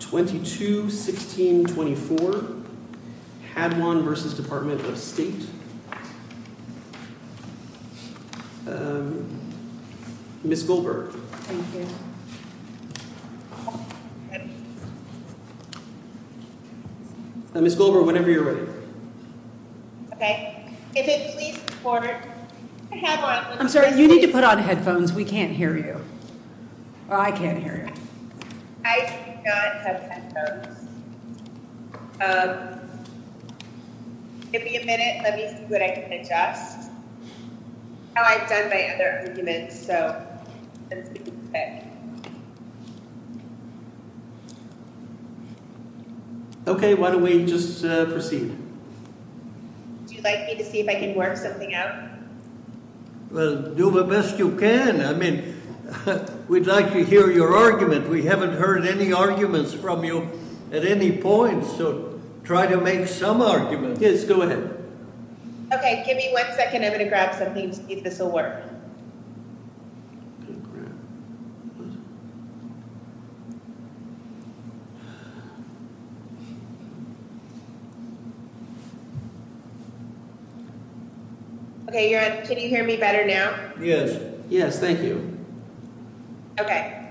22-16-24 Hadwan v. Department of State Ms. Goldberg. Thank you. Ms. Goldberg whenever you're ready. I'm sorry you need to put on the microphone. I forgot to have headphones. Give me a minute. Let me see what I can adjust. I've done my other arguments so. Okay, why don't we just proceed. Would you like me to see if I can work something out? Well, do the best you can. I mean, we'd like to hear your argument. We haven't heard any arguments from you at any point, so try to make some arguments. Yes, go ahead. Okay, give me one second. I'm going to grab something to see if this will work. Okay, can you hear me better now? Yes. Yes, thank you. Okay.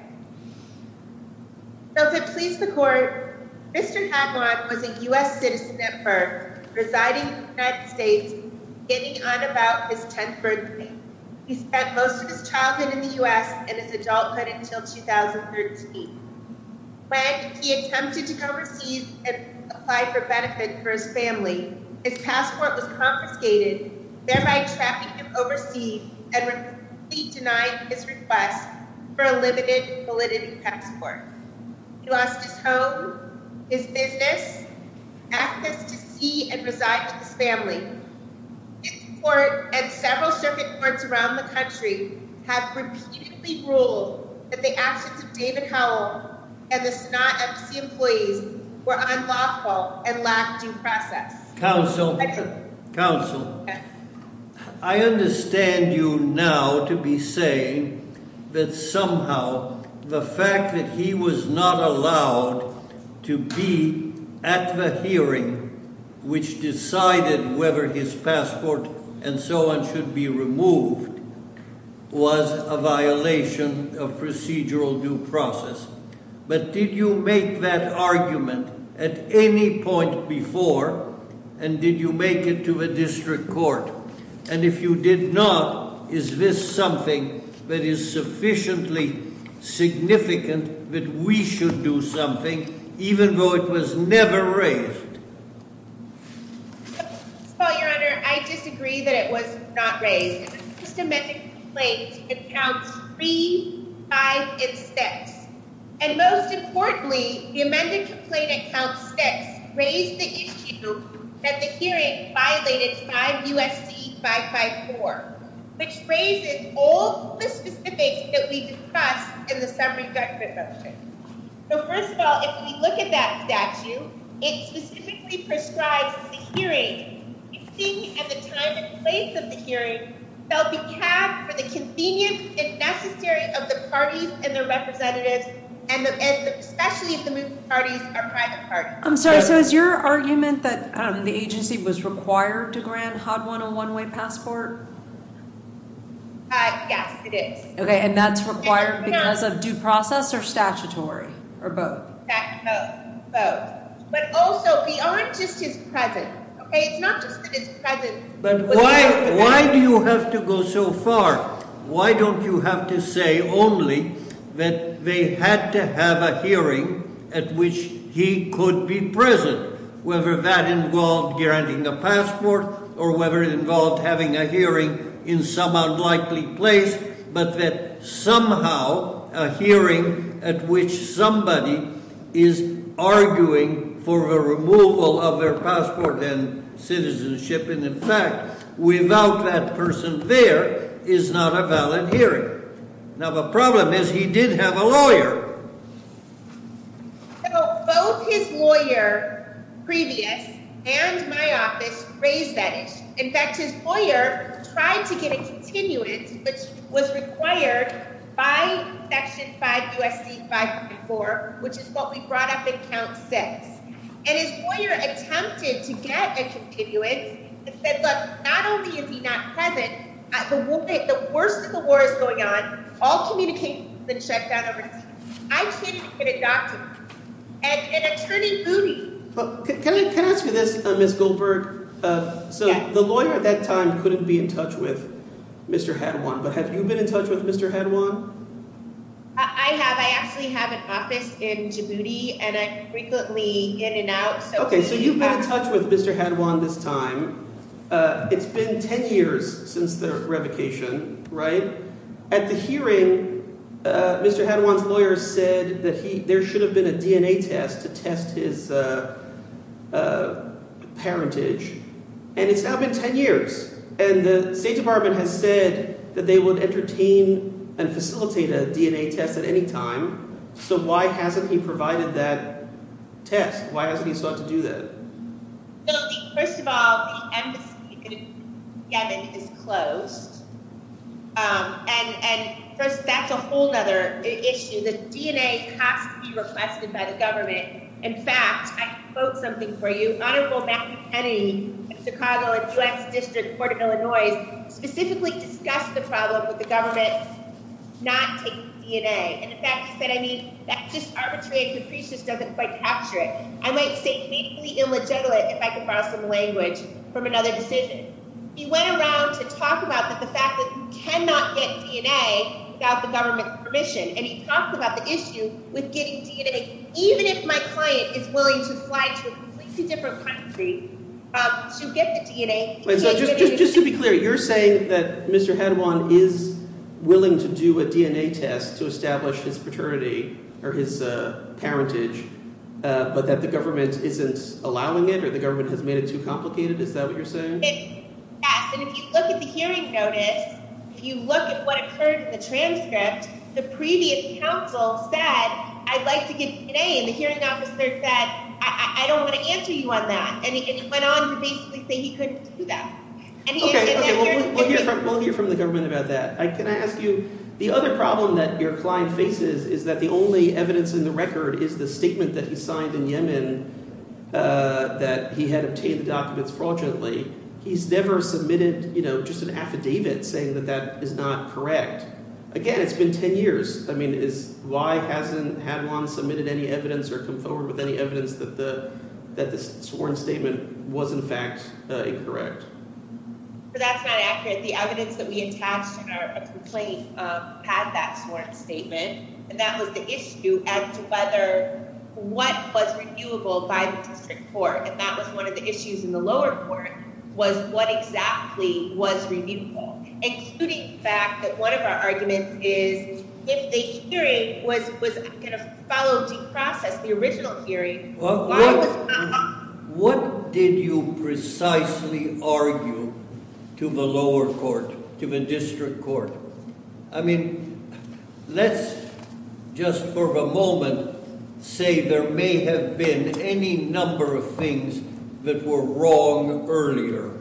So to please the court, Mr. Hadwan was a U.S. citizen at birth, residing in the United States beginning on about his 10th birthday. He was adopted in the U.S. in his adulthood until 2013. When he attempted to go overseas and apply for benefit for his family, his passport was confiscated, thereby trapping him overseas and repeatedly denying his request for a limited validity passport. He lost his home, his business, access to sea, and reside to his family. His court and I have repeatedly ruled that the actions of David Howell and the Sonata MC employees were unlawful and lacked due process. Counsel, counsel, I understand you now to be saying that somehow the fact that he was not allowed to be at the hearing, which decided whether his request was a violation of procedural due process, but did you make that argument at any point before and did you make it to a district court? And if you did not, is this something that is sufficiently significant that we should do something even though it was never raised? Your Honor, I disagree that it was not raised. The first amended complaint accounts 3, 5, and 6. And most importantly, the amended complaint at count 6 raised the issue that the hearing violated 5 U.S.C. 554, which raises all the specifics that we discussed in the summary judgment motion. So first of all, if we look at that statute, it specifically prescribes that the hearing, the meeting, and the time and place of the hearing shall be capped for the convenience, if necessary, of the parties and their representatives, and especially if the parties are private parties. I'm sorry, so is your argument that the agency was required to grant HOD 101-way passport? Yes, it is. Okay, and that's required because of due process or statutory or both? Both. But also, beyond just his presence, okay, it's not just that his presence. But why do you have to go so far? Why don't you have to say only that they had to have a hearing at which he could be present, whether that involved granting a passport or whether it involved having a hearing in some unlikely place, but that somehow a hearing at which somebody is arguing for a removal of their passport and citizenship, and in fact, without that person there, is not a valid hearing. Now the problem is he did have a lawyer. So both his lawyer, previous, and my office raised that issue. In fact, his lawyer tried to get a continuance, which was required by Section 5 U.S.C. 544, which is what we brought up in Count 6, and his lawyer attempted to get a continuance that said, look, not only is he not present, the worst of the war is going on. All communications have been shut down over time. I can't even get a document. An attorney booted. Can I ask you this, Ms. Goldberg? So the lawyer at that time couldn't be in touch with Mr. Hadjwan, but have you been in touch with Mr. Hadjwan? I have. I actually have an office in Djibouti, and I'm frequently in and out. Okay, so you've been in touch with Mr. Hadjwan this time. It's been 10 years since the revocation, right? At the hearing, Mr. Hadjwan's lawyer said that there should have been a DNA test to test his parentage, and it's now been 10 years, and the State Department has said that they would entertain and facilitate a DNA test at any time, so why hasn't he provided that test? Why hasn't he sought to do that? First of all, the embassy in Yemen is closed, and that's a whole other issue. The DNA has to be requested by the government. In fact, I can quote something for you. Honorable Matthew Kennedy of Chicago and the U.S. District Court of Illinois specifically discussed the problem with the government not taking DNA, and in fact he said, I mean, that just arbitrary and capricious doesn't quite capture it. I might state legally illegitimate if I could borrow some language from another decision. He went around to talk about the fact that you cannot get DNA without the government's permission, and he talked about the issue with getting DNA even if my client is willing to fly to a completely different country to get the DNA. Just to be clear, you're saying that Mr. Hadjwan is willing to do a DNA test to establish his paternity or his parentage, but that the government isn't allowing it or the government has made it too complicated? Is that what you're saying? Yes, and if you look at the hearing notice, if you look at what occurred in the transcript, the previous counsel said, I'd like to get DNA, and the hearing officer said, I don't want to answer you on that, and he went on to basically say he couldn't do that. OK, OK, we'll hear from the government about that. Can I ask you, the other problem that your client faces is that the only evidence in the record is the statement that he signed in Yemen that he had obtained the documents fraudulently. He's never submitted just an affidavit saying that that is not correct. Again, it's been ten years. Why hasn't Hadjwan submitted any evidence or come forward with any evidence that the sworn statement was in fact incorrect? That's not accurate. The evidence that we attached in our complaint had that sworn statement, and that was the issue as to whether what was reviewable by the district court, and that was one of the issues in the lower court, was what exactly was reviewable, including the fact that one of our arguments is if the hearing was going to follow due process, the original hearing, What did you precisely argue to the lower court, to the district court? I mean, let's just for a moment say there may have been any number of things that were wrong earlier.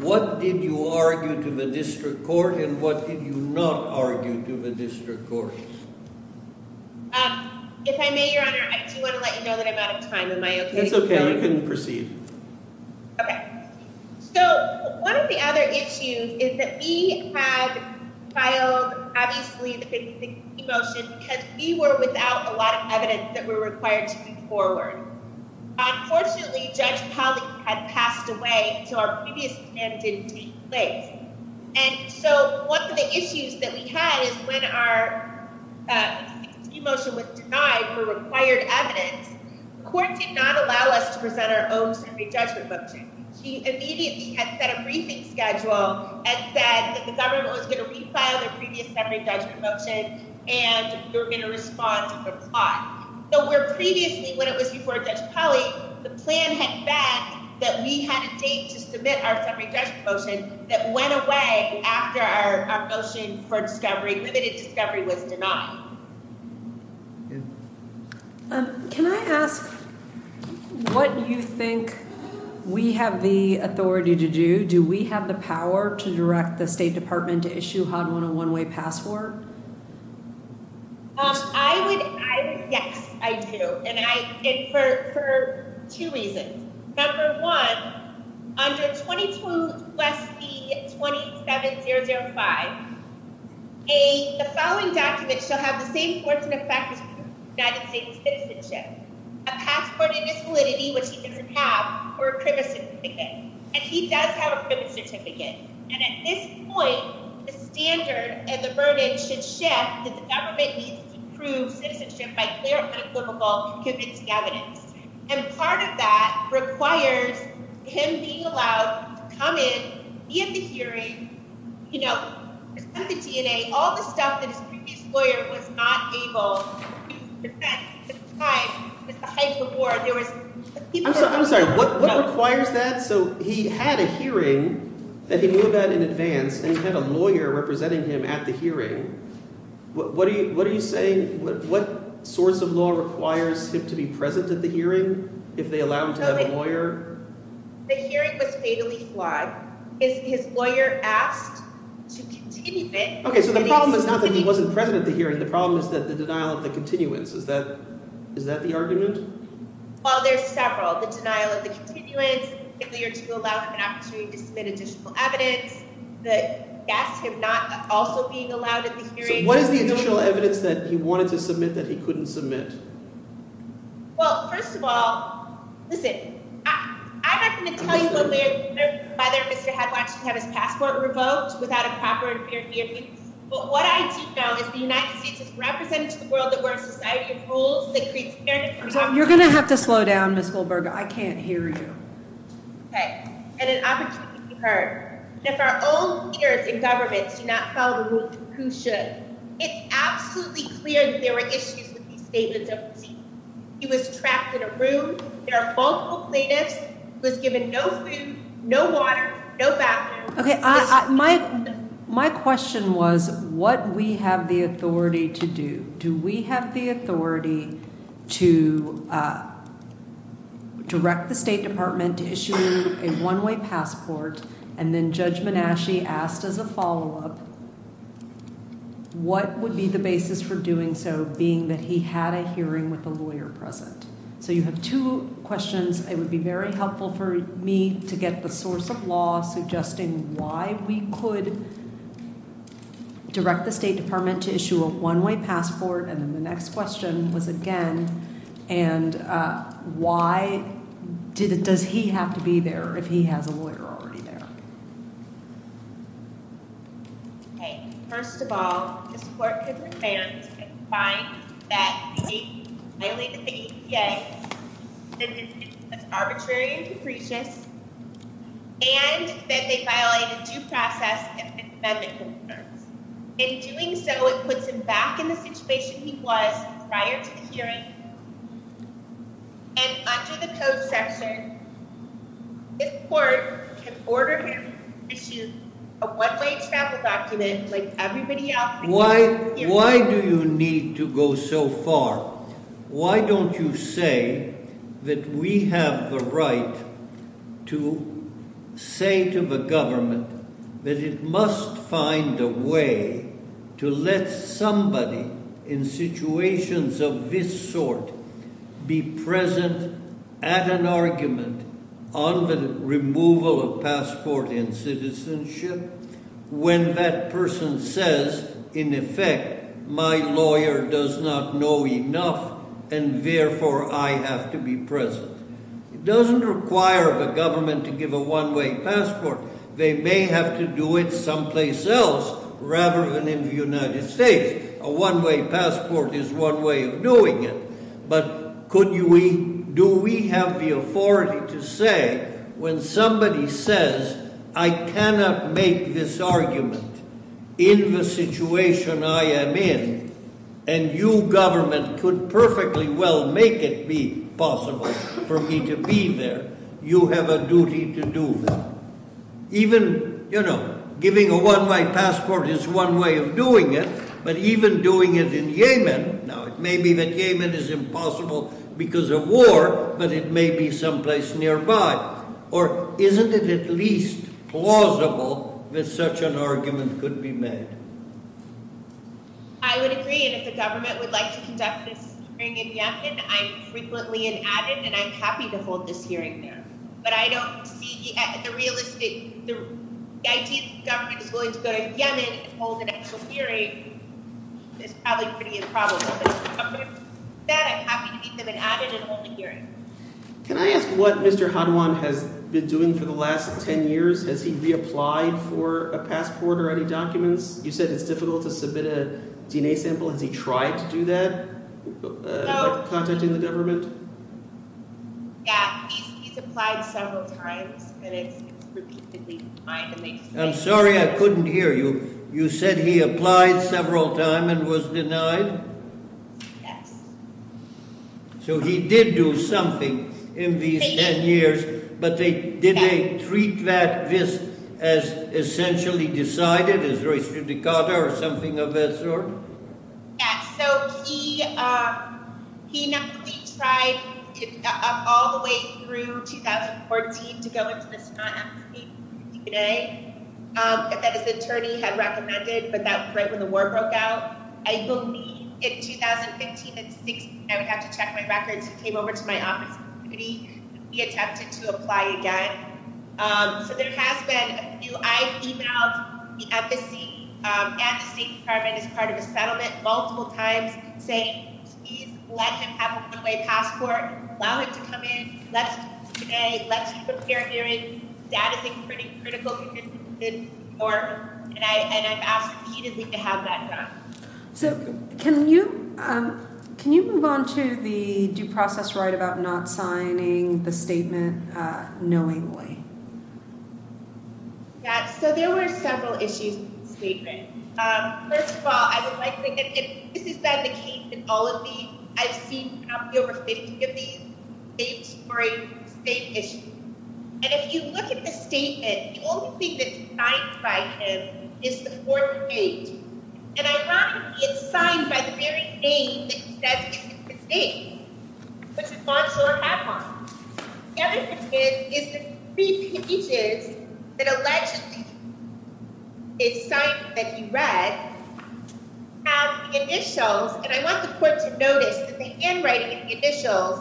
What did you argue to the district court, and what did you not argue to the district court? If I may, Your Honor, I do want to let you know that I'm out of time. Am I okay to continue? It's okay. You can proceed. Okay. So one of the other issues is that we had filed, obviously, the conviction motion because we were without a lot of evidence that we're required to move forward. Unfortunately, Judge Powell had passed away, so our previous plan didn't take place. And so one of the issues that we had is when our conviction motion was denied for required evidence, the court did not allow us to present our own summary judgment motion. He immediately had set a briefing schedule and said that the government was going to refile the previous summary judgment motion and we were going to respond to the plot. So where previously, when it was before Judge Powell, the plan had backed that we had a date to submit our summary judgment motion that went away after our motion for discovery, limited discovery, was denied. Can I ask what you think we have the authority to do? Do we have the power to direct the State Department to issue a 101-way passport? Yes, I do, and for two reasons. Number one, under 22 U.S.C. 27005, the following documents shall have the same force and effect as United States citizenship. A passport in its validity, which he doesn't have, or a CRIBA certificate. And he does have a CRIBA certificate. And at this point, the standard and the burden should shift that the government needs to prove citizenship by clear and equitable conviction evidence. And part of that requires him being allowed to come in, be at the hearing, present the DNA, all the stuff that his previous lawyer was not able to present at the time, at the height of the war. I'm sorry, what requires that? So he had a hearing that he knew about in advance, and he had a lawyer representing him at the hearing. What are you saying? What source of law requires him to be present at the hearing if they allow him to have a lawyer? The hearing was fatally flawed. His lawyer asked to continue it. Okay, so the problem is not that he wasn't present at the hearing. The problem is the denial of the continuance. Is that the argument? Well, there's several. The denial of the continuance, failure to allow him an opportunity to submit additional evidence. That's him not also being allowed at the hearing. So what is the additional evidence that he wanted to submit that he couldn't submit? Well, first of all, listen, I'm not going to tell you whether Mr. Headwatch should have his passport revoked without a proper and fair hearing. But what I do know is the United States is represented to the world that we're a society of rules that creates fairness and opportunity. You're going to have to slow down, Ms. Goldberg. I can't hear you. Okay, and an opportunity to be heard. And if our own leaders and governments do not follow the rules, who should? It's absolutely clear that there are issues with these statements of receipt. He was trapped in a room. There are multiple plaintiffs. He was given no food, no water, no bathroom. Okay, my question was what we have the authority to do. Do we have the authority to direct the State Department to issue a one-way passport and then Judge Menasche asked as a follow-up what would be the basis for doing so, being that he had a hearing with a lawyer present? So you have two questions. It would be very helpful for me to get the source of law suggesting why we could direct the State Department to issue a one-way passport. And then the next question was, again, and why does he have to be there if he has a lawyer already there? Okay, first of all, this court could reverence and find that he violated the EPA, that it was arbitrary and capricious, and that they violated due process and amendment concerns. In doing so, it puts him back in the situation he was prior to the hearing, and under the Code section, this court can order him to issue a one-way travel document like everybody else. Why do you need to go so far? Why don't you say that we have the right to say to the government that it must find a way to let somebody in situations of this sort be present at an argument on the removal of passport and citizenship, when that person says, in effect, my lawyer does not know enough, and therefore I have to be present? It doesn't require the government to give a one-way passport. They may have to do it someplace else rather than in the United States. A one-way passport is one way of doing it. But do we have the authority to say, when somebody says, I cannot make this argument in the situation I am in, and you government could perfectly well make it be possible for me to be there, you have a duty to do that. Giving a one-way passport is one way of doing it, but even doing it in Yemen. Now, it may be that Yemen is impossible because of war, but it may be someplace nearby. Or isn't it at least plausible that such an argument could be made? I would agree, and if the government would like to conduct this hearing in Yemen, I am frequently an added, and I am happy to hold this hearing there. But I don't see the realistic – the idea that the government is willing to go to Yemen and hold an actual hearing is probably pretty improbable. But other than that, I'm happy to give them an added and holding hearing. Can I ask what Mr. Hadwan has been doing for the last 10 years? Has he reapplied for a passport or any documents? You said it's difficult to submit a DNA sample. Has he tried to do that, contacting the government? Yeah, he's applied several times, and it's repeatedly denied. I'm sorry, I couldn't hear you. You said he applied several times and was denied? Yes. So he did do something in these 10 years, but did they treat this as essentially decided, as res judicata or something of that sort? Yeah, so he tried all the way through 2014 to go into this non-empathy DNA that his attorney had recommended, but that was right when the war broke out. I believe in 2015 and 2016, I would have to check my records. He came over to my office and he attempted to apply again. So there has been a few. I've emailed the embassy and the State Department as part of a settlement multiple times saying, Please let him have a one-way passport. Allow him to come in. Let's do DNA. Let's keep him here hearing. That is a pretty critical condition for him, and I've asked repeatedly to have that done. So can you move on to the due process right about not signing the statement knowingly? Yeah, so there were several issues with the statement. First of all, I would like to say that this is by the case in all of these. I've seen probably over 50 of these states for a state issue, and if you look at the statement, the only thing that's signed by him is the fourth page. And ironically, it's signed by the very name that he says is his name, which is Monsure Hadlam. The other thing is the three pages that allegedly is signed, that he read, have the initials. And I want the court to notice that the handwriting in the initials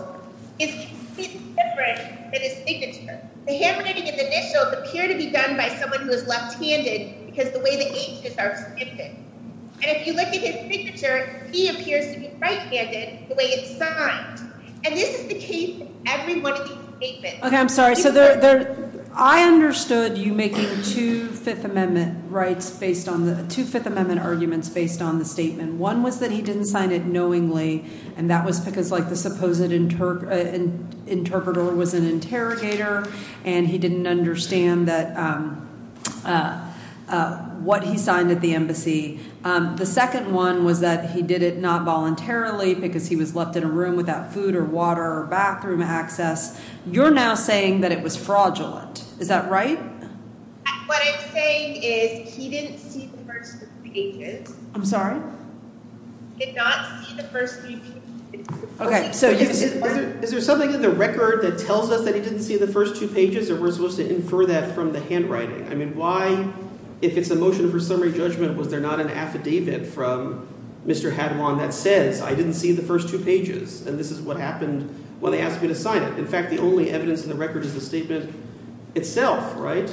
is completely different than his signature. The handwriting in the initials appear to be done by someone who is left-handed because the way the ages are. And if you look at his signature, he appears to be right-handed the way it's signed. And this is the case every one of these statements. OK, I'm sorry. So there I understood you making two Fifth Amendment rights based on the two Fifth Amendment arguments based on the statement. One was that he didn't sign it knowingly, and that was because, like, the supposed interpreter was an interrogator and he didn't understand that what he signed at the embassy. The second one was that he did it not voluntarily because he was left in a room without food or water or bathroom access. You're now saying that it was fraudulent. Is that right? What I'm saying is he didn't see the first three pages. I'm sorry. Did not see the first three pages. OK, so is there something in the record that tells us that he didn't see the first two pages or we're supposed to infer that from the handwriting? I mean, why, if it's a motion for summary judgment, was there not an affidavit from Mr. Hadwon that says I didn't see the first two pages and this is what happened when they asked me to sign it? In fact, the only evidence in the record is the statement itself, right?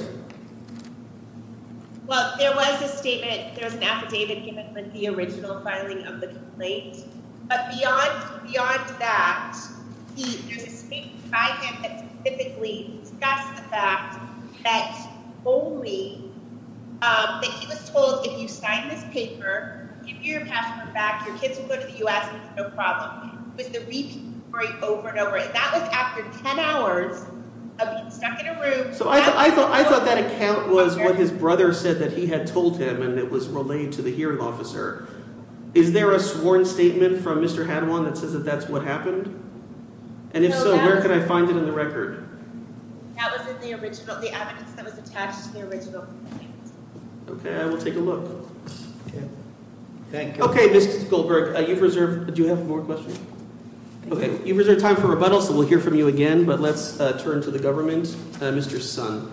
Well, there was a statement – there was an affidavit given with the original filing of the complaint. But beyond that, there's a statement by him that specifically discussed the fact that only – that he was told if you sign this paper, give me your passport back, your kids will go to the U.S. and it's no problem. And that was after 10 hours of being stuck in a room. So I thought that account was what his brother said that he had told him and it was relayed to the hearing officer. Is there a sworn statement from Mr. Hadwon that says that that's what happened? And if so, where can I find it in the record? That was in the original – the evidence that was attached to the original complaint. OK, I will take a look. Thank you. OK, Mr. Goldberg, you've reserved – do you have more questions? OK, you've reserved time for rebuttal, so we'll hear from you again. But let's turn to the government. Mr. Sun. Mr. Sun.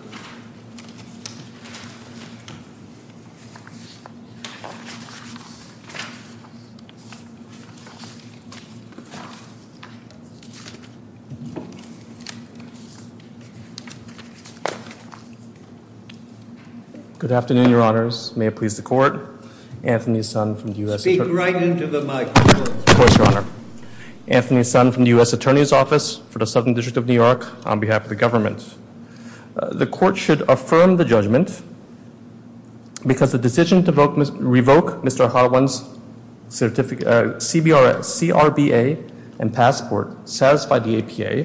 Good afternoon, Your Honors. May it please the Court. Anthony Sun from the U.S. – Speak right into the microphone. Of course, Your Honor. Anthony Sun from the U.S. Attorney's Office for the Southern District of New York on behalf of the government. The Court should affirm the judgment because the decision to revoke Mr. Hadwon's CRBA and passport satisfied the APA.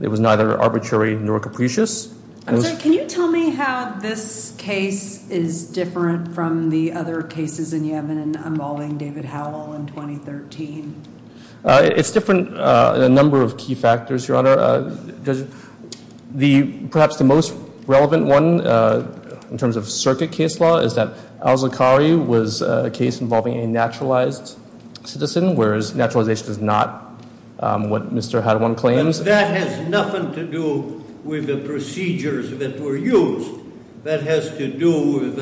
It was neither arbitrary nor capricious. Can you tell me how this case is different from the other cases in Yemen involving David Howell in 2013? It's different in a number of key factors, Your Honor. Perhaps the most relevant one in terms of circuit case law is that al-Zaqqari was a case involving a naturalized citizen, whereas naturalization is not what Mr. Hadwon claims. But that has nothing to do with the procedures that were used. That has to do with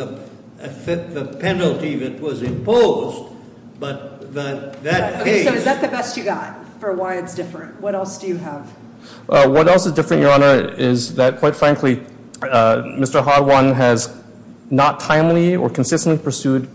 the penalty that was imposed. But that case – So is that the best you got for why it's different? What else do you have? What else is different, Your Honor, is that, quite frankly, Mr. Hadwon has not timely or consistently pursued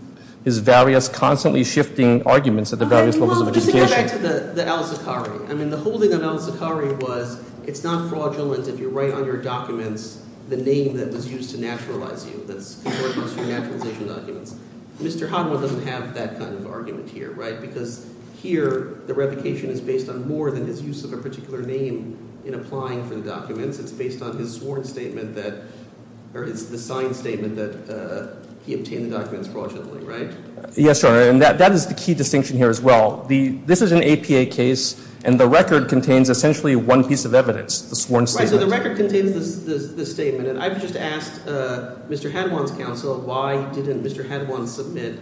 his various constantly shifting arguments at the various levels of litigation. Well, let's go back to the al-Zaqqari. I mean the holding of al-Zaqqari was it's not fraudulent if you write on your documents the name that was used to naturalize you. That's contorting your naturalization documents. Mr. Hadwon doesn't have that kind of argument here, right? Because here the revocation is based on more than his use of a particular name in applying for the documents. It's based on his sworn statement that – or it's the signed statement that he obtained the documents fraudulently, right? Yes, Your Honor, and that is the key distinction here as well. This is an APA case, and the record contains essentially one piece of evidence, the sworn statement. Right, so the record contains the statement, and I've just asked Mr. Hadwon's counsel why didn't Mr. Hadwon submit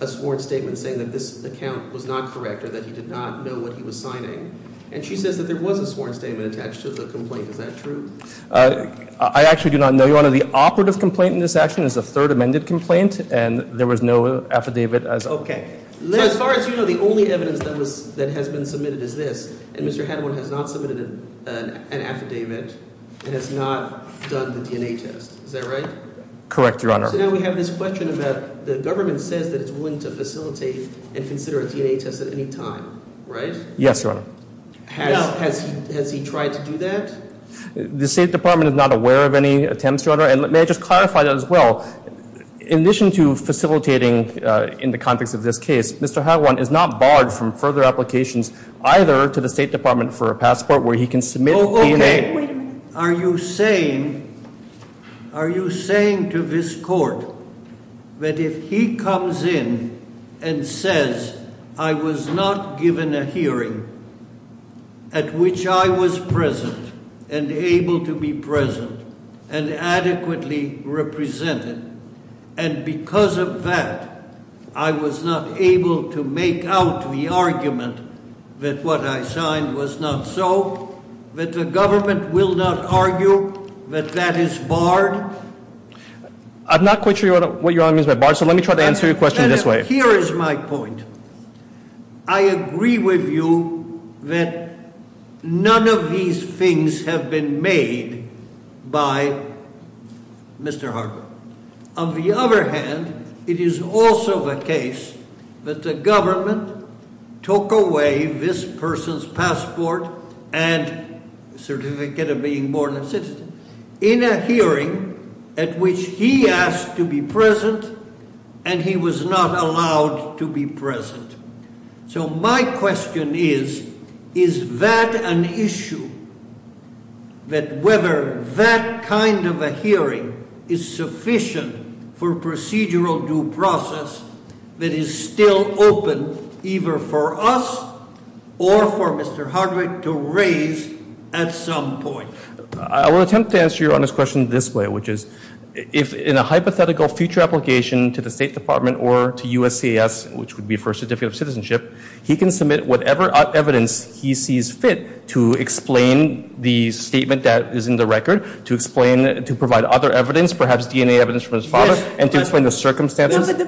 a sworn statement saying that this account was not correct or that he did not know what he was signing. And she says that there was a sworn statement attached to the complaint. Is that true? I actually do not know, Your Honor. The operative complaint in this action is a third amended complaint, and there was no affidavit as a whole. As far as you know, the only evidence that has been submitted is this, and Mr. Hadwon has not submitted an affidavit and has not done the DNA test. Is that right? Correct, Your Honor. So now we have this question about the government says that it's willing to facilitate and consider a DNA test at any time, right? Yes, Your Honor. Has he tried to do that? The State Department is not aware of any attempts, Your Honor. And may I just clarify that as well? In addition to facilitating in the context of this case, Mr. Hadwon is not barred from further applications either to the State Department for a passport where he can submit DNA- At which I was present and able to be present and adequately represented. And because of that, I was not able to make out the argument that what I signed was not so, that the government will not argue that that is barred. I'm not quite sure what you're arguing is barred, so let me try to answer your question this way. Here is my point. I agree with you that none of these things have been made by Mr. Hadwon. On the other hand, it is also the case that the government took away this person's passport and certificate of being born a citizen in a hearing at which he asked to be present and he was not allowed to be present. So my question is, is that an issue? That whether that kind of a hearing is sufficient for procedural due process that is still open either for us or for Mr. Hardwick to raise at some point. I will attempt to answer your honest question this way, which is, if in a hypothetical future application to the State Department or to USCIS, which would be for a certificate of citizenship, he can submit whatever evidence he sees fit to explain the statement that is in the record, to explain, to provide other evidence, perhaps DNA evidence from his father, and to explain the circumstances. If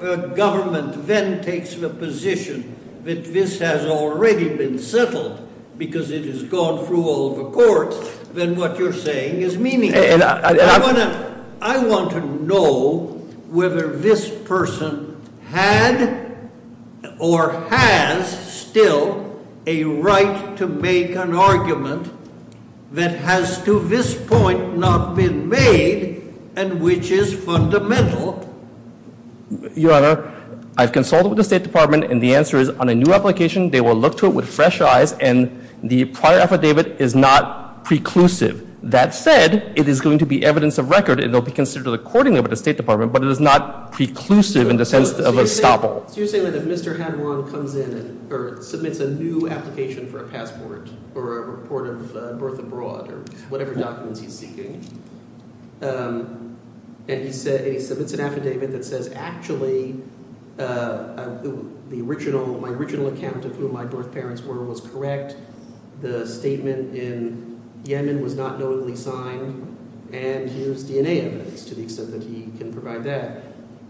the government then takes the position that this has already been settled because it has gone through all the courts, then what you're saying is meaningless. I want to know whether this person had or has still a right to make an argument that has to this point not been made and which is fundamental. Your Honor, I've consulted with the State Department and the answer is on a new application they will look to it with fresh eyes and the prior affidavit is not preclusive. That said, it is going to be evidence of record and it will be considered accordingly by the State Department, but it is not preclusive in the sense of a stop-all. So you're saying that if Mr. Hadron comes in or submits a new application for a passport or a report of birth abroad or whatever documents he's seeking, and he submits an affidavit that says, actually, my original account of who my birth parents were was correct. The statement in Yemen was not notably signed and here's DNA evidence to the extent that he can provide that.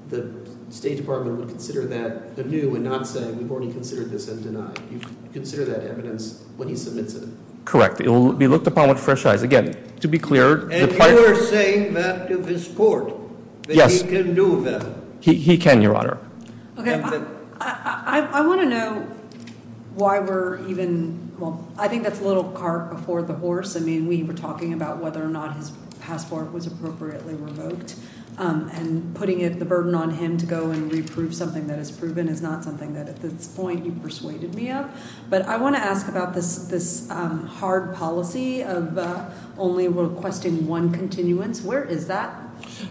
The State Department would consider that anew and not say we've already considered this and denied. You consider that evidence when he submits it. Correct. It will be looked upon with fresh eyes. Again, to be clear, the prior- And you are saying that to this court that he can do that? Yes. He can, Your Honor. Okay. I want to know why we're even – well, I think that's a little cart before the horse. I mean, we were talking about whether or not his passport was appropriately revoked. And putting the burden on him to go and reprove something that is proven is not something that, at this point, you persuaded me of. But I want to ask about this hard policy of only requesting one continuance. Where is that?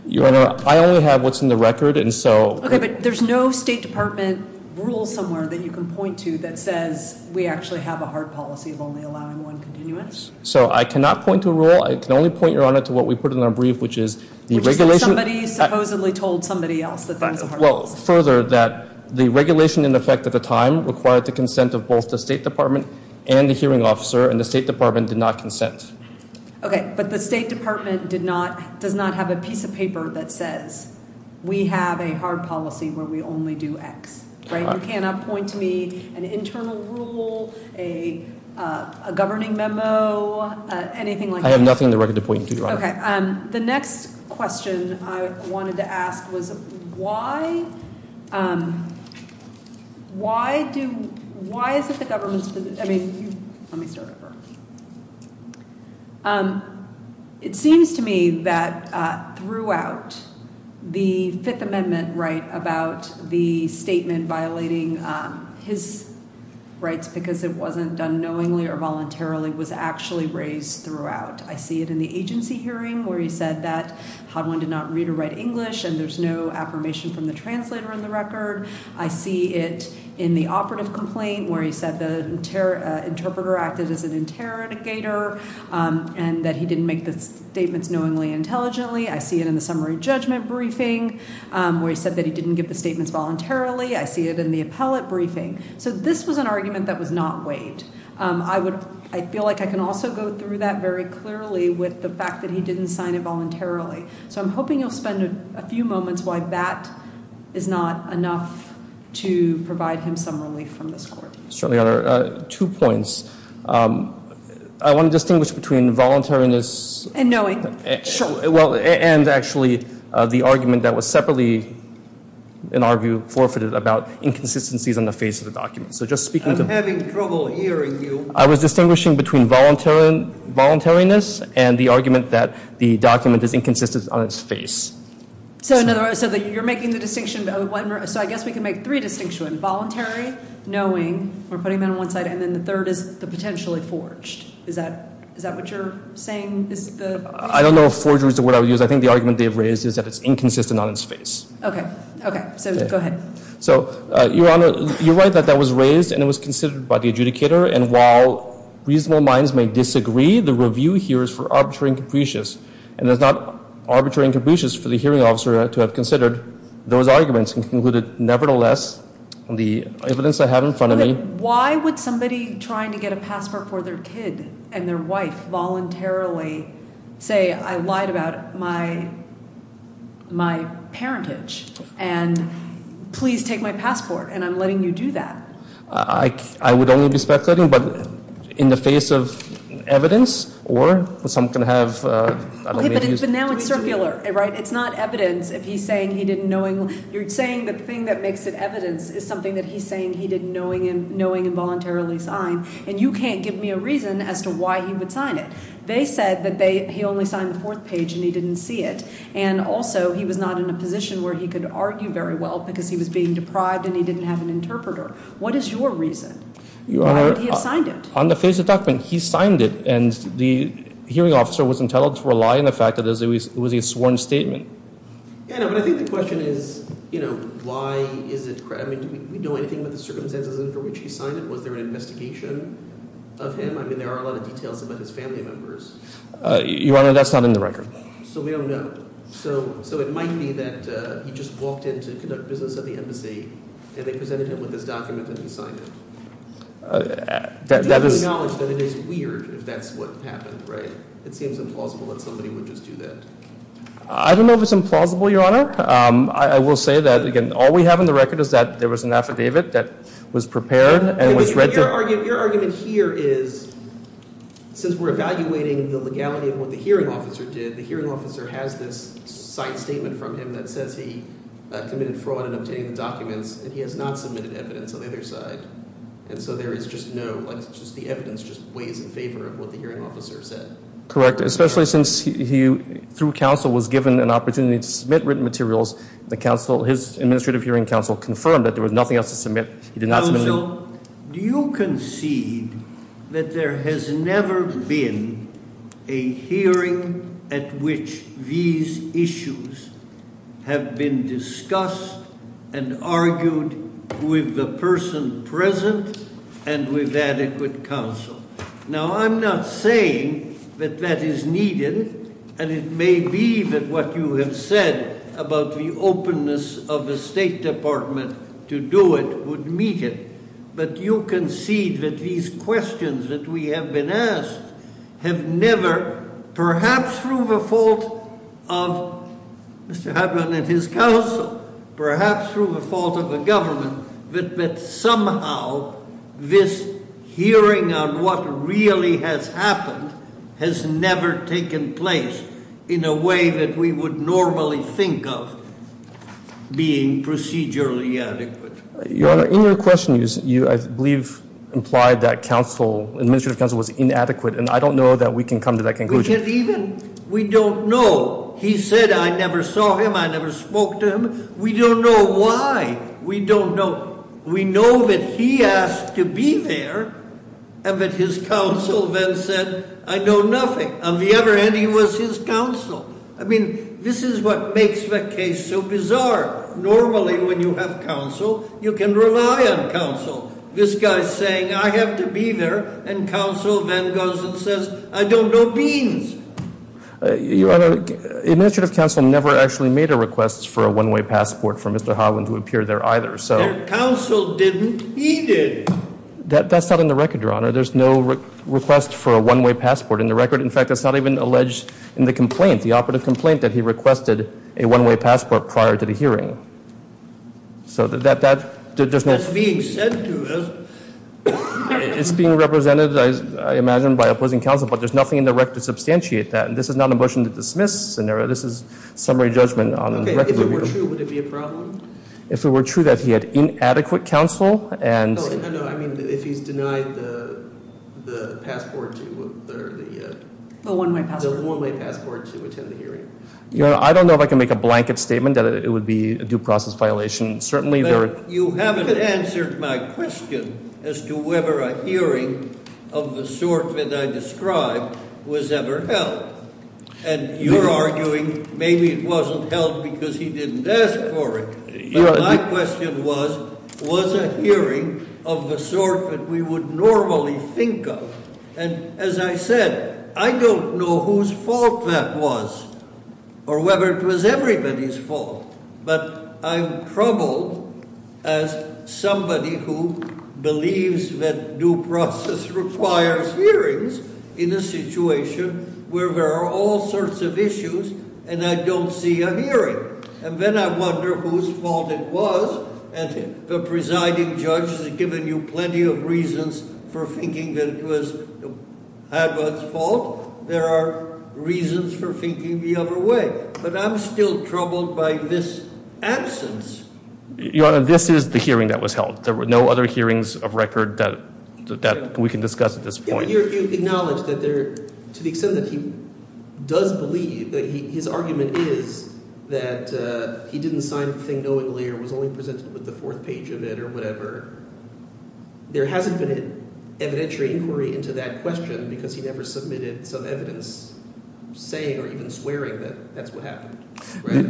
Your Honor, I only have what's in the record, and so- Okay. But there's no State Department rule somewhere that you can point to that says we actually have a hard policy of only allowing one continuance? So I cannot point to a rule. I can only point, Your Honor, to what we put in our brief, which is the regulation- Which is that somebody supposedly told somebody else that there was a hard policy. Well, further, that the regulation in effect at the time required the consent of both the State Department and the hearing officer, and the State Department did not consent. Okay. But the State Department did not – does not have a piece of paper that says we have a hard policy where we only do X, right? You cannot point to me an internal rule, a governing memo, anything like that? I have nothing in the record to point you to, Your Honor. Okay. The next question I wanted to ask was why do – why is it the government's – I mean, let me start over. It seems to me that throughout the Fifth Amendment right about the statement violating his rights because it wasn't done knowingly or voluntarily was actually raised throughout. I see it in the agency hearing where he said that Hodwin did not read or write English and there's no affirmation from the translator in the record. I see it in the operative complaint where he said the interpreter acted as an interrogator and that he didn't make the statements knowingly and intelligently. I see it in the summary judgment briefing where he said that he didn't give the statements voluntarily. I see it in the appellate briefing. So this was an argument that was not waived. I would – I feel like I can also go through that very clearly with the fact that he didn't sign it voluntarily. So I'm hoping you'll spend a few moments why that is not enough to provide him some relief from this court. Certainly, Your Honor. Two points. I want to distinguish between voluntariness – And knowing. Sure. Well, and actually the argument that was separately, in our view, forfeited about inconsistencies on the face of the document. I'm having trouble hearing you. I was distinguishing between voluntariness and the argument that the document is inconsistent on its face. So you're making the distinction – so I guess we can make three distinctions. Voluntary, knowing, we're putting them on one side, and then the third is the potentially forged. Is that what you're saying is the – I don't know if forged is the word I would use. I think the argument they have raised is that it's inconsistent on its face. Okay. Okay. So go ahead. So, Your Honor, you're right that that was raised and it was considered by the adjudicator. And while reasonable minds may disagree, the review here is for arbitrary and capricious. And it's not arbitrary and capricious for the hearing officer to have considered those arguments and concluded, nevertheless, the evidence I have in front of me – Why would somebody trying to get a passport for their kid and their wife voluntarily say, I lied about my parentage, and please take my passport, and I'm letting you do that? I would only be speculating, but in the face of evidence or someone can have – Okay, but now it's circular, right? It's not evidence if he's saying he didn't knowing – you're saying the thing that makes it evidence is something that he's saying he didn't knowing and knowing and voluntarily sign. And you can't give me a reason as to why he would sign it. They said that they – he only signed the fourth page and he didn't see it. And also he was not in a position where he could argue very well because he was being deprived and he didn't have an interpreter. What is your reason? Why would he have signed it? Your Honor, on the face of the document, he signed it, and the hearing officer was entitled to rely on the fact that it was a sworn statement. Yeah, but I think the question is why is it – do we know anything about the circumstances for which he signed it? Was there an investigation of him? I mean, there are a lot of details about his family members. Your Honor, that's not in the record. So we don't know. So it might be that he just walked in to conduct business at the embassy and they presented him with this document and he signed it. That is – Do you acknowledge that it is weird if that's what happened, right? It seems implausible that somebody would just do that. I don't know if it's implausible, Your Honor. I will say that, again, all we have on the record is that there was an affidavit that was prepared and was read to – But your argument here is since we're evaluating the legality of what the hearing officer did, the hearing officer has this side statement from him that says he committed fraud in obtaining the documents, and he has not submitted evidence on the other side. And so there is just no – like it's just the evidence just weighs in favor of what the hearing officer said. Correct, especially since he, through counsel, was given an opportunity to submit written materials. The counsel – his administrative hearing counsel confirmed that there was nothing else to submit. Counsel, do you concede that there has never been a hearing at which these issues have been discussed and argued with the person present and with adequate counsel? Now, I'm not saying that that is needed, and it may be that what you have said about the openness of the State Department to do it would meet it. But you concede that these questions that we have been asked have never – perhaps through the fault of Mr. Hedlund and his counsel, perhaps through the fault of the government, that somehow this hearing on what really has happened has never taken place in a way that we would normally think of being procedurally adequate. Your Honor, in your question you, I believe, implied that counsel – administrative counsel was inadequate, and I don't know that we can come to that conclusion. We can't even – we don't know. He said, I never saw him, I never spoke to him. We don't know why. We don't know. We know that he asked to be there and that his counsel then said, I know nothing. On the other hand, he was his counsel. I mean, this is what makes the case so bizarre. Normally, when you have counsel, you can rely on counsel. This guy is saying, I have to be there, and counsel then goes and says, I don't know beans. Your Honor, administrative counsel never actually made a request for a one-way passport for Mr. Hedlund to appear there either. Counsel didn't. He did. That's not in the record, Your Honor. There's no request for a one-way passport in the record. In fact, that's not even alleged in the complaint, the operative complaint that he requested a one-way passport prior to the hearing. So that – That's being said to us. It's being represented, I imagine, by opposing counsel, but there's nothing in the record to substantiate that. And this is not a motion to dismiss scenario. This is summary judgment on the record. Okay. If it were true, would it be a problem? If it were true that he had inadequate counsel and – No, no, no. I mean, if he's denied the passport to – The one-way passport. The one-way passport to attend the hearing. Your Honor, I don't know if I can make a blanket statement that it would be a due process violation. Certainly, there – But you haven't answered my question as to whether a hearing of the sort that I described was ever held. And you're arguing maybe it wasn't held because he didn't ask for it. But my question was, was a hearing of the sort that we would normally think of. And as I said, I don't know whose fault that was or whether it was everybody's fault. But I'm troubled as somebody who believes that due process requires hearings in a situation where there are all sorts of issues and I don't see a hearing. And then I wonder whose fault it was. And the presiding judge has given you plenty of reasons for thinking that it was – had was fault. There are reasons for thinking the other way. But I'm still troubled by this absence. Your Honor, this is the hearing that was held. There were no other hearings of record that we can discuss at this point. You acknowledge that there – to the extent that he does believe – his argument is that he didn't sign the thing knowingly or was only presented with the fourth page of it or whatever. There hasn't been an evidentiary inquiry into that question because he never submitted some evidence saying or even swearing that that's what happened.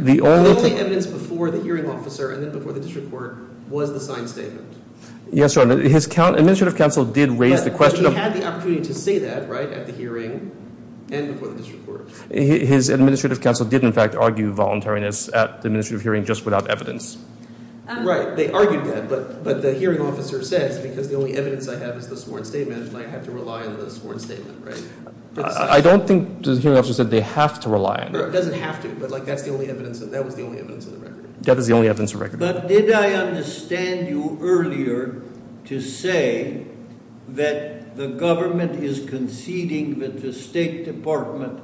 The only evidence before the hearing officer and then before the district court was the signed statement. Yes, Your Honor. His administrative counsel did raise the question of – But he had the opportunity to say that at the hearing and before the district court. His administrative counsel did in fact argue voluntariness at the administrative hearing just without evidence. Right. They argued that, but the hearing officer says because the only evidence I have is the sworn statement and I have to rely on the sworn statement, right? I don't think the hearing officer said they have to rely on it. It doesn't have to, but that's the only evidence – that was the only evidence on the record. But did I understand you earlier to say that the government is conceding that the State Department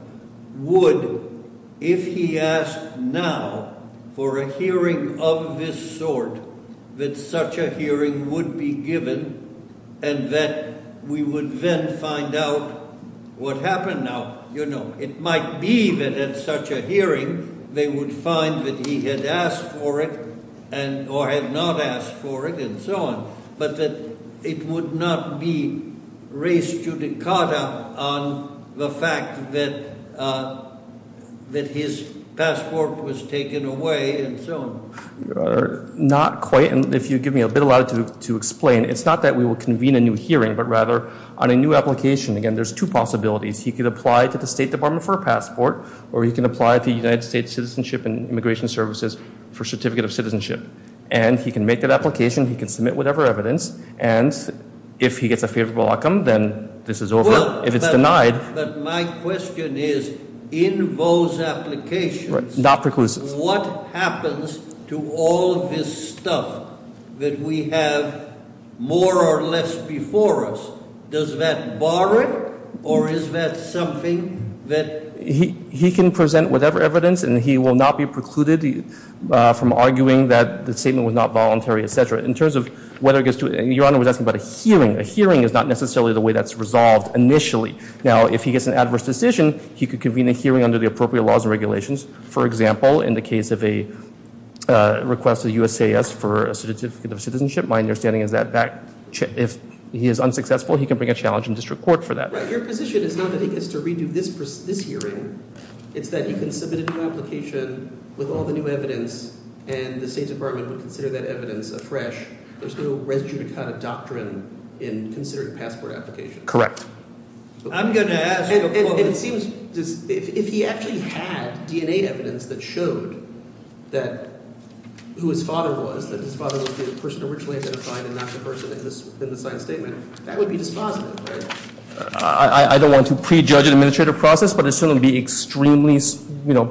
would, if he asked now for a hearing of this sort, that such a hearing would be given and that we would then find out what happened now? It might be that at such a hearing they would find that he had asked for it or had not asked for it and so on, but that it would not be res judicata on the fact that his passport was taken away and so on. Your Honor, not quite. And if you give me a bit of latitude to explain, it's not that we will convene a new hearing, but rather on a new application. Again, there's two possibilities. He could apply to the State Department for a passport or he can apply to the United States Citizenship and Immigration Services for a certificate of citizenship. And he can make that application, he can submit whatever evidence, and if he gets a favorable outcome, then this is over. But my question is, in those applications, what happens to all of this stuff that we have more or less before us? Does that borrow it or is that something that… He can present whatever evidence and he will not be precluded from arguing that the statement was not voluntary, etc. In terms of whether it gets to… Your Honor was asking about a hearing. A hearing is not necessarily the way that's resolved initially. Now, if he gets an adverse decision, he could convene a hearing under the appropriate laws and regulations. For example, in the case of a request to the USAS for a certificate of citizenship, my understanding is that if he is unsuccessful, he can bring a challenge in district court for that. Right. Your position is not that he gets to redo this hearing. It's that he can submit a new application with all the new evidence and the State Department would consider that evidence afresh. There's no res judicata doctrine in considering passport applications. Correct. I'm going to ask… And it seems if he actually had DNA evidence that showed that – who his father was, that his father was the person originally identified and not the person in the signed statement, that would be dispositive, right? I don't want to prejudge an administrative process, but it certainly would be extremely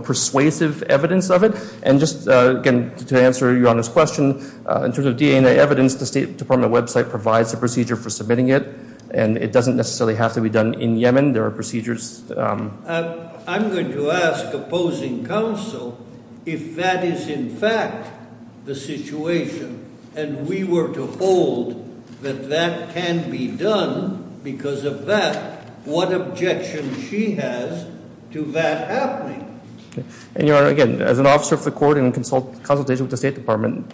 persuasive evidence of it. And just, again, to answer Your Honor's question, in terms of DNA evidence, the State Department website provides a procedure for submitting it, and it doesn't necessarily have to be done in Yemen. There are procedures… I'm going to ask opposing counsel if that is in fact the situation, and we were to hold that that can be done because of that, what objection she has to that happening? And, Your Honor, again, as an officer of the court in consultation with the State Department,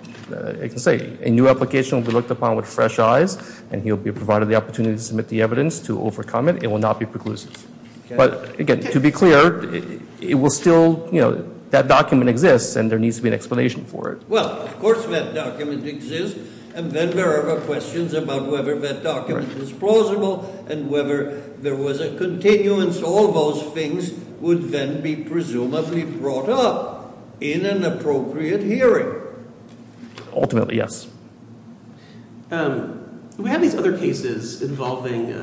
I can say a new application will be looked upon with fresh eyes, and he'll be provided the opportunity to submit the evidence to overcome it. It will not be preclusive. But, again, to be clear, it will still – that document exists, and there needs to be an explanation for it. Well, of course that document exists, and then there are the questions about whether that document is plausible and whether there was a continuance. All those things would then be presumably brought up in an appropriate hearing. Ultimately, yes. We have these other cases involving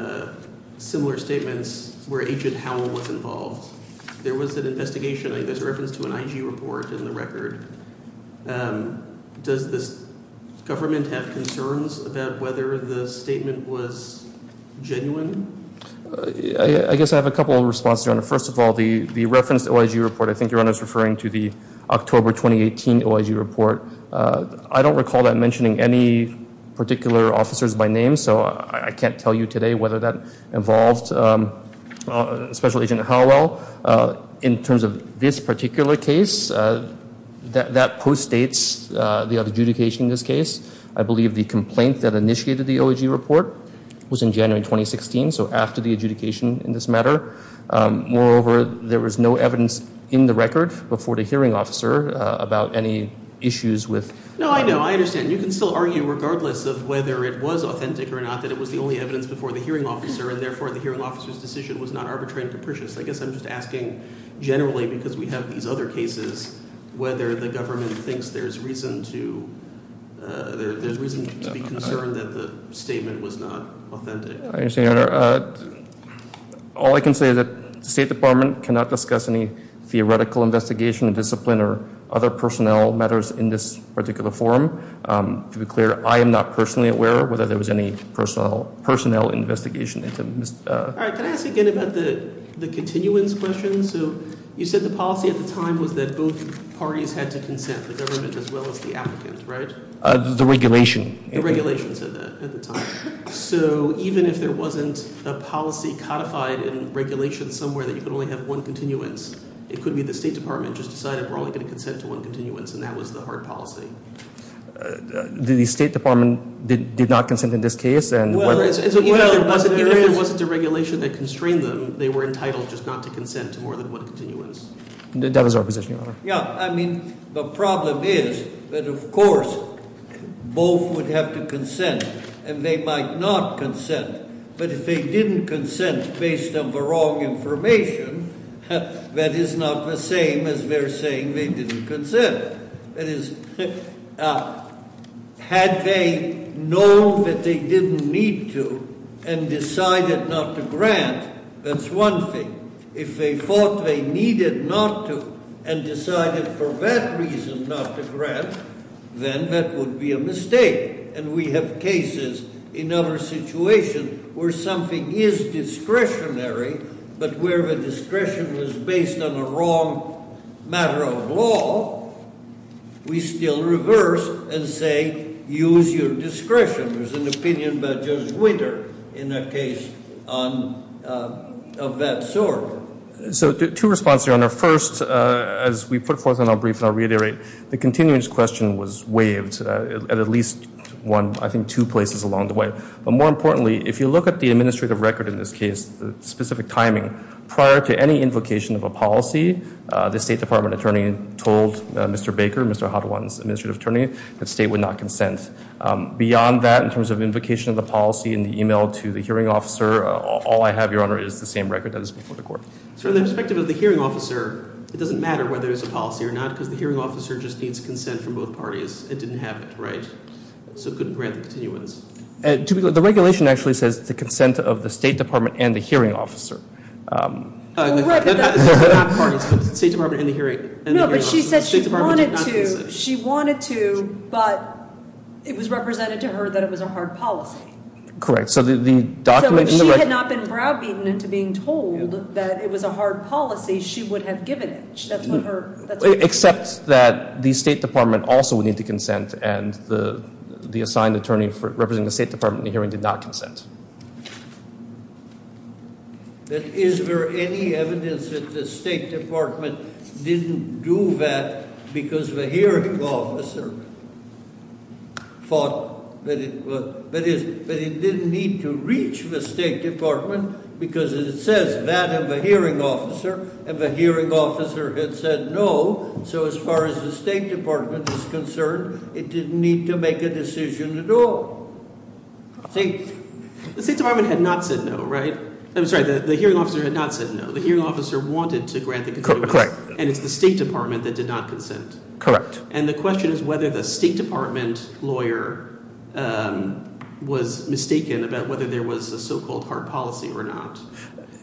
similar statements where Agent Howell was involved. There was an investigation, I guess, reference to an IG report in the record. Does the government have concerns about whether the statement was genuine? I guess I have a couple of responses, Your Honor. I'm not mentioning any particular officers by name, so I can't tell you today whether that involved Special Agent Howell. In terms of this particular case, that postdates the adjudication in this case. I believe the complaint that initiated the OIG report was in January 2016, so after the adjudication in this matter. Moreover, there was no evidence in the record before the hearing officer about any issues with – No, I know. I understand. You can still argue regardless of whether it was authentic or not that it was the only evidence before the hearing officer, and therefore the hearing officer's decision was not arbitrary and capricious. I guess I'm just asking generally because we have these other cases whether the government thinks there's reason to be concerned that the statement was not authentic. I understand, Your Honor. All I can say is that the State Department cannot discuss any theoretical investigation, discipline, or other personnel matters in this particular forum. To be clear, I am not personally aware whether there was any personnel investigation. All right. Can I ask again about the continuance question? So you said the policy at the time was that both parties had to consent, the government as well as the applicants, right? The regulation. The regulation said that at the time. So even if there wasn't a policy codified in regulation somewhere that you could only have one continuance, it could be the State Department just decided we're only going to consent to one continuance, and that was the hard policy. The State Department did not consent in this case? Even if there wasn't a regulation that constrained them, they were entitled just not to consent to more than one continuance. That was our position, Your Honor. Yeah, I mean, the problem is that, of course, both would have to consent, and they might not consent. But if they didn't consent based on the wrong information, that is not the same as they're saying they didn't consent. That is, had they known that they didn't need to and decided not to grant, that's one thing. If they thought they needed not to and decided for that reason not to grant, then that would be a mistake. And we have cases in other situations where something is discretionary, but where the discretion is based on a wrong matter of law, we still reverse and say use your discretion. There's an opinion by Judge Winter in that case of that sort. So two responses, Your Honor. First, as we put forth in our brief and I'll reiterate, the continuance question was waived at at least one, I think two places along the way. But more importantly, if you look at the administrative record in this case, the specific timing, prior to any invocation of a policy, the State Department attorney told Mr. Baker, Mr. Hadwan's administrative attorney, that State would not consent. Beyond that, in terms of invocation of the policy in the e-mail to the hearing officer, all I have, Your Honor, is the same record that is before the court. So from the perspective of the hearing officer, it doesn't matter whether it's a policy or not, because the hearing officer just needs consent from both parties and didn't have it, right? So it couldn't grant the continuance. The regulation actually says the consent of the State Department and the hearing officer. She said she wanted to, but it was represented to her that it was a hard policy. Correct. So the document- So if she had not been browbeaten into being told that it was a hard policy, she would have given it. That's what her- Except that the State Department also would need to consent, and the assigned attorney representing the State Department in the hearing did not consent. Is there any evidence that the State Department didn't do that because the hearing officer thought that it would? But it didn't need to reach the State Department because it says that in the hearing officer, and the hearing officer had said no. So as far as the State Department is concerned, it didn't need to make a decision at all. The State Department had not said no, right? I'm sorry, the hearing officer had not said no. The hearing officer wanted to grant the continuance, and it's the State Department that did not consent. Correct. And the question is whether the State Department lawyer was mistaken about whether there was a so-called hard policy or not.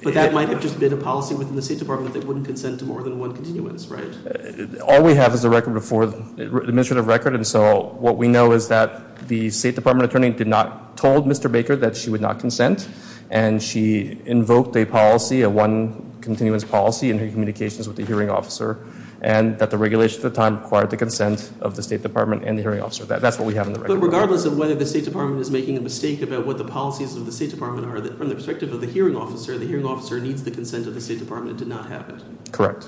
But that might have just been a policy within the State Department that wouldn't consent to more than one continuance, right? All we have is a record before, an administrative record, and so what we know is that the State Department attorney did not tell Mr. Baker that she would not consent, and she invoked a policy, a one continuance policy in her communications with the hearing officer, and that the regulation at the time required the consent of the State Department and the hearing officer. That's what we have in the record. But regardless of whether the State Department is making a mistake about what the policies of the State Department are, from the perspective of the hearing officer, the hearing officer needs the consent of the State Department to not have it. Correct.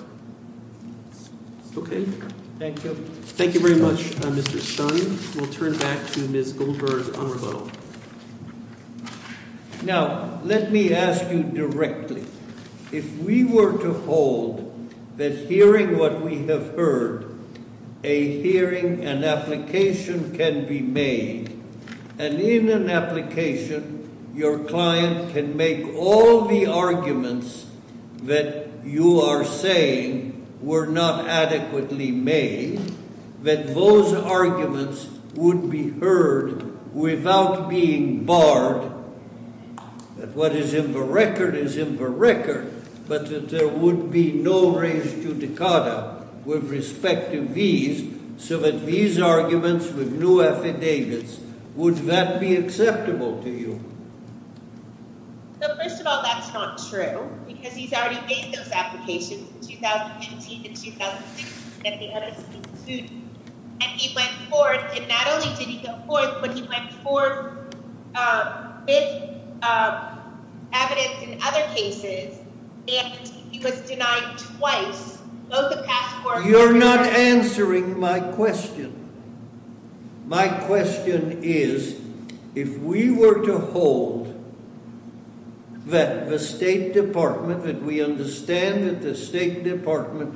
Okay. Thank you. Thank you very much, Mr. Sun. We'll turn back to Ms. Goldberg on rebuttal. Now, let me ask you directly. If we were to hold that hearing what we have heard, a hearing and application can be made, and in an application, your client can make all the arguments that you are saying were not adequately made, that those arguments would be heard without being barred, that what is in the record is in the record, but that there would be no res judicata with respect to these, so that these arguments with no affidavits, would that be acceptable to you? Well, first of all, that's not true, because he's already made those applications in 2015 and 2016, and they haven't been sued. And he went forth, and not only did he go forth, but he went forth with evidence in other cases, and he was denied twice, both the past four years. But you're not answering my question. My question is, if we were to hold that the State Department, that we understand that the State Department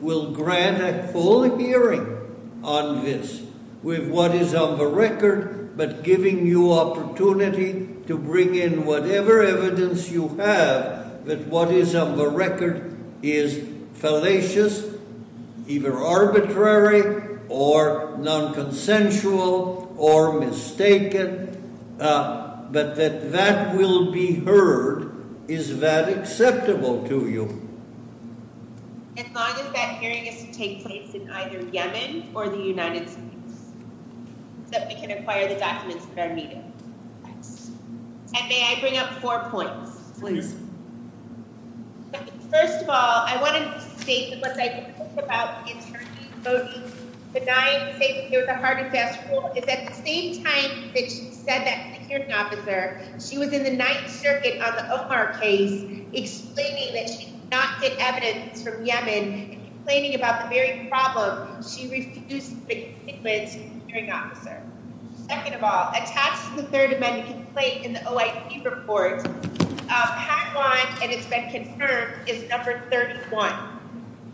will grant a full hearing on this, with what is on the record, but giving you opportunity to bring in whatever evidence you have, that what is on the record is fallacious, either arbitrary, or non-consensual, or mistaken, but that that will be heard, is that acceptable to you? As long as that hearing is to take place in either Yemen or the United States, so that we can acquire the documents that are needed. And may I bring up four points? Please. First of all, I wanted to state that what I think about the attorney voting benign safety with a hard and fast rule is that at the same time that she said that to the hearing officer, she was in the Ninth Circuit on the Omar case, explaining that she did not get evidence from Yemen, and complaining about the very problem, she refused to make a statement to the hearing officer. Second of all, attached to the Third Amendment complaint in the OIP report, part one, and it's been confirmed, is number 31.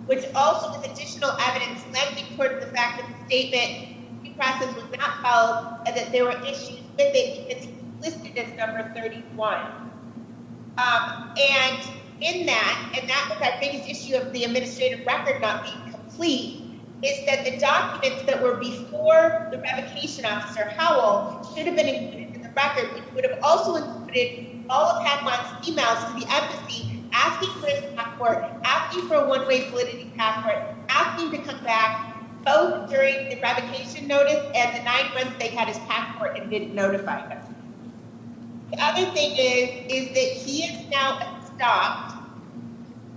Which also, with additional evidence, led me towards the fact that the statement, due process was not followed, and that there were issues with it, and it's listed as number 31. And in that, and that was our biggest issue of the administrative record not being complete, is that the documents that were before the revocation officer, Howell, should have been included in the record. It would have also included all of Hadmon's emails to the embassy, asking for his passport, asking for a one-way validity passport, asking to come back both during the revocation notice and the nine months they had his passport and didn't notify him. The other thing is, is that he is now stopped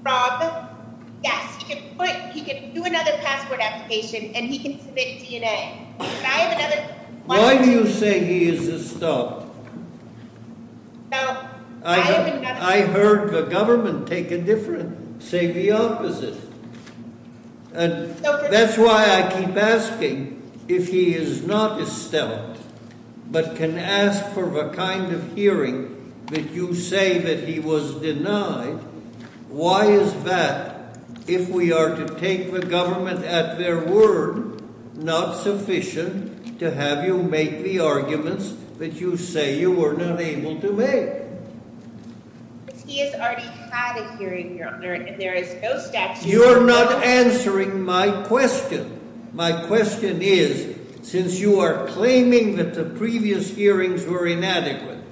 from, yes, he can put, he can do another passport application, and he can submit DNA. Why do you say he is stopped? I heard the government take a different, say the opposite. And that's why I keep asking, if he is not esteemed, but can ask for the kind of hearing that you say that he was denied, why is that, if we are to take the government at their word, not sufficient to have you make the arguments that you say you were not able to make? Because he has already had a hearing, Your Honor, and there is no statute. You're not answering my question. My question is, since you are claiming that the previous hearings were inadequate,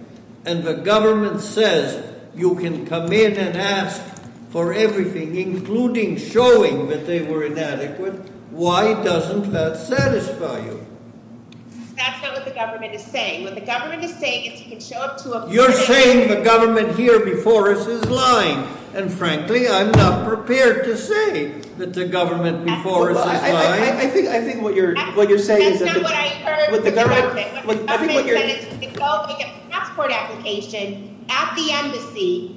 and the government says you can come in and ask for everything, including showing that they were inadequate, why doesn't that satisfy you? That's not what the government is saying. You're saying the government here before us is lying. And frankly, I'm not prepared to say that the government before us is lying. I think what you're saying is... That's not what I heard from the government. The government said he could go make a passport application at the embassy,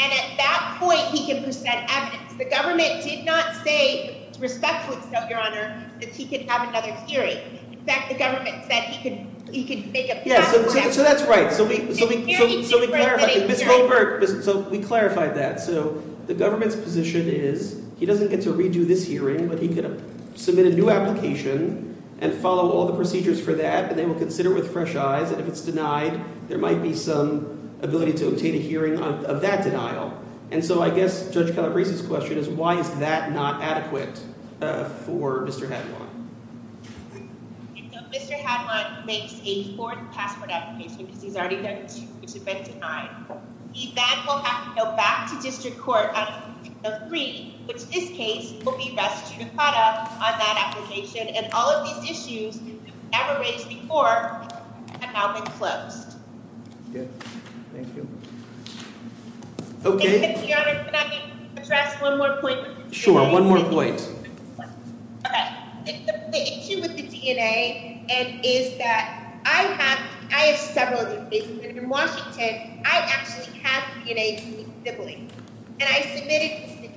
and at that point he could present evidence. The government did not say, respectfully so, Your Honor, that he could have another hearing. In fact, the government said he could make a passport application... So that's right. So we clarified that. So the government's position is he doesn't get to redo this hearing, but he could submit a new application and follow all the procedures for that, and they will consider with fresh eyes. And if it's denied, there might be some ability to obtain a hearing of that denial. And so I guess Judge Calabrese's question is why is that not adequate for Mr. Hadlon? Mr. Hadlon makes a fourth passport application because he's already done two which have been denied. He then will have to go back to district court on a third, which in this case will be restricted on that application. And all of these issues that were raised before have now been closed. Okay. Thank you. Okay. Your Honor, can I address one more point? Sure. One more point. Okay. The issue with the DNA is that I have several of these cases. And in Washington, I actually have DNA from a sibling, and I submitted this to the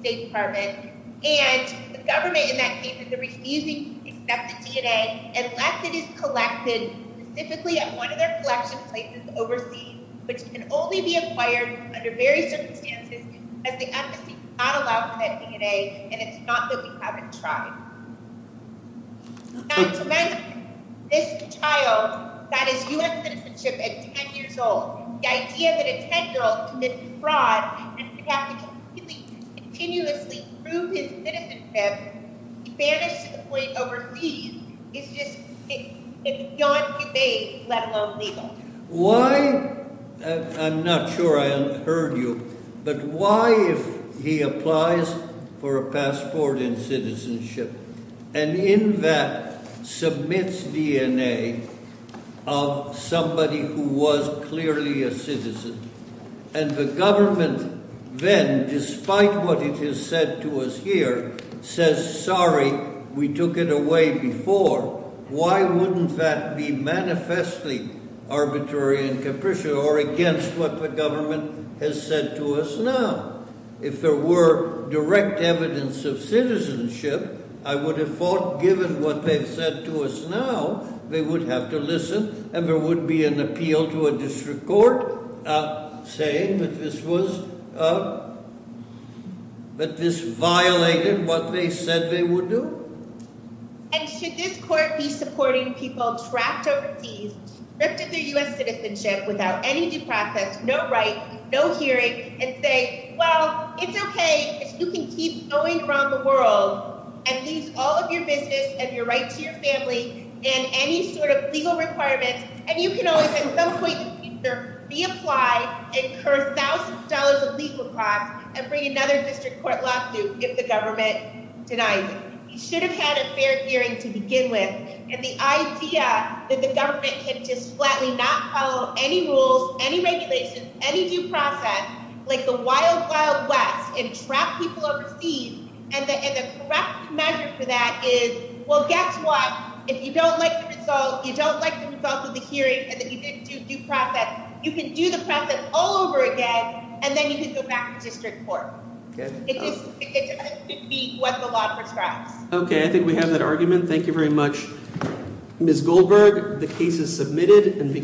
state department. And the government in that case is refusing to accept the DNA unless it is collected specifically at one of their collection places overseas, which can only be acquired under various circumstances as the embassy cannot allow for that DNA, and it's not that we haven't tried. And to mention this child that is U.S. citizenship at 10 years old, the idea that a 10-year-old committed fraud and would have to continuously prove his citizenship, banished to the point overseas, is just beyond debate, let alone legal. Why? I'm not sure I heard you. But why, if he applies for a passport and citizenship, and in that submits DNA of somebody who was clearly a citizen, and the government then, despite what it has said to us here, says, sorry, we took it away before, why wouldn't that be manifestly arbitrary and capricious, or against what the government has said to us now? If there were direct evidence of citizenship, I would have thought, given what they've said to us now, they would have to listen, and there would be an appeal to a district court, saying that this violated what they said they would do. And should this court be supporting people trapped overseas, stripped of their U.S. citizenship, without any due process, no right, no hearing, and say, well, it's okay, you can keep going around the world and lose all of your business and your right to your family, and any sort of legal requirements, and you can always, at some point in the future, reapply and incur thousands of dollars of legal costs and bring another district court lawsuit if the government denies it. He should have had a fair hearing to begin with, and the idea that the government can just flatly not follow any rules, any regulations, any due process, like the wild, wild west, and trap people overseas, and the correct measure for that is, well, guess what? If you don't like the result, you don't like the result of the hearing, and you didn't do due process, you can do the process all over again, and then you can go back to the district court. It doesn't have to be what the law prescribes. Okay, I think we have that argument. Thank you very much. Ms. Goldberg, the case is submitted.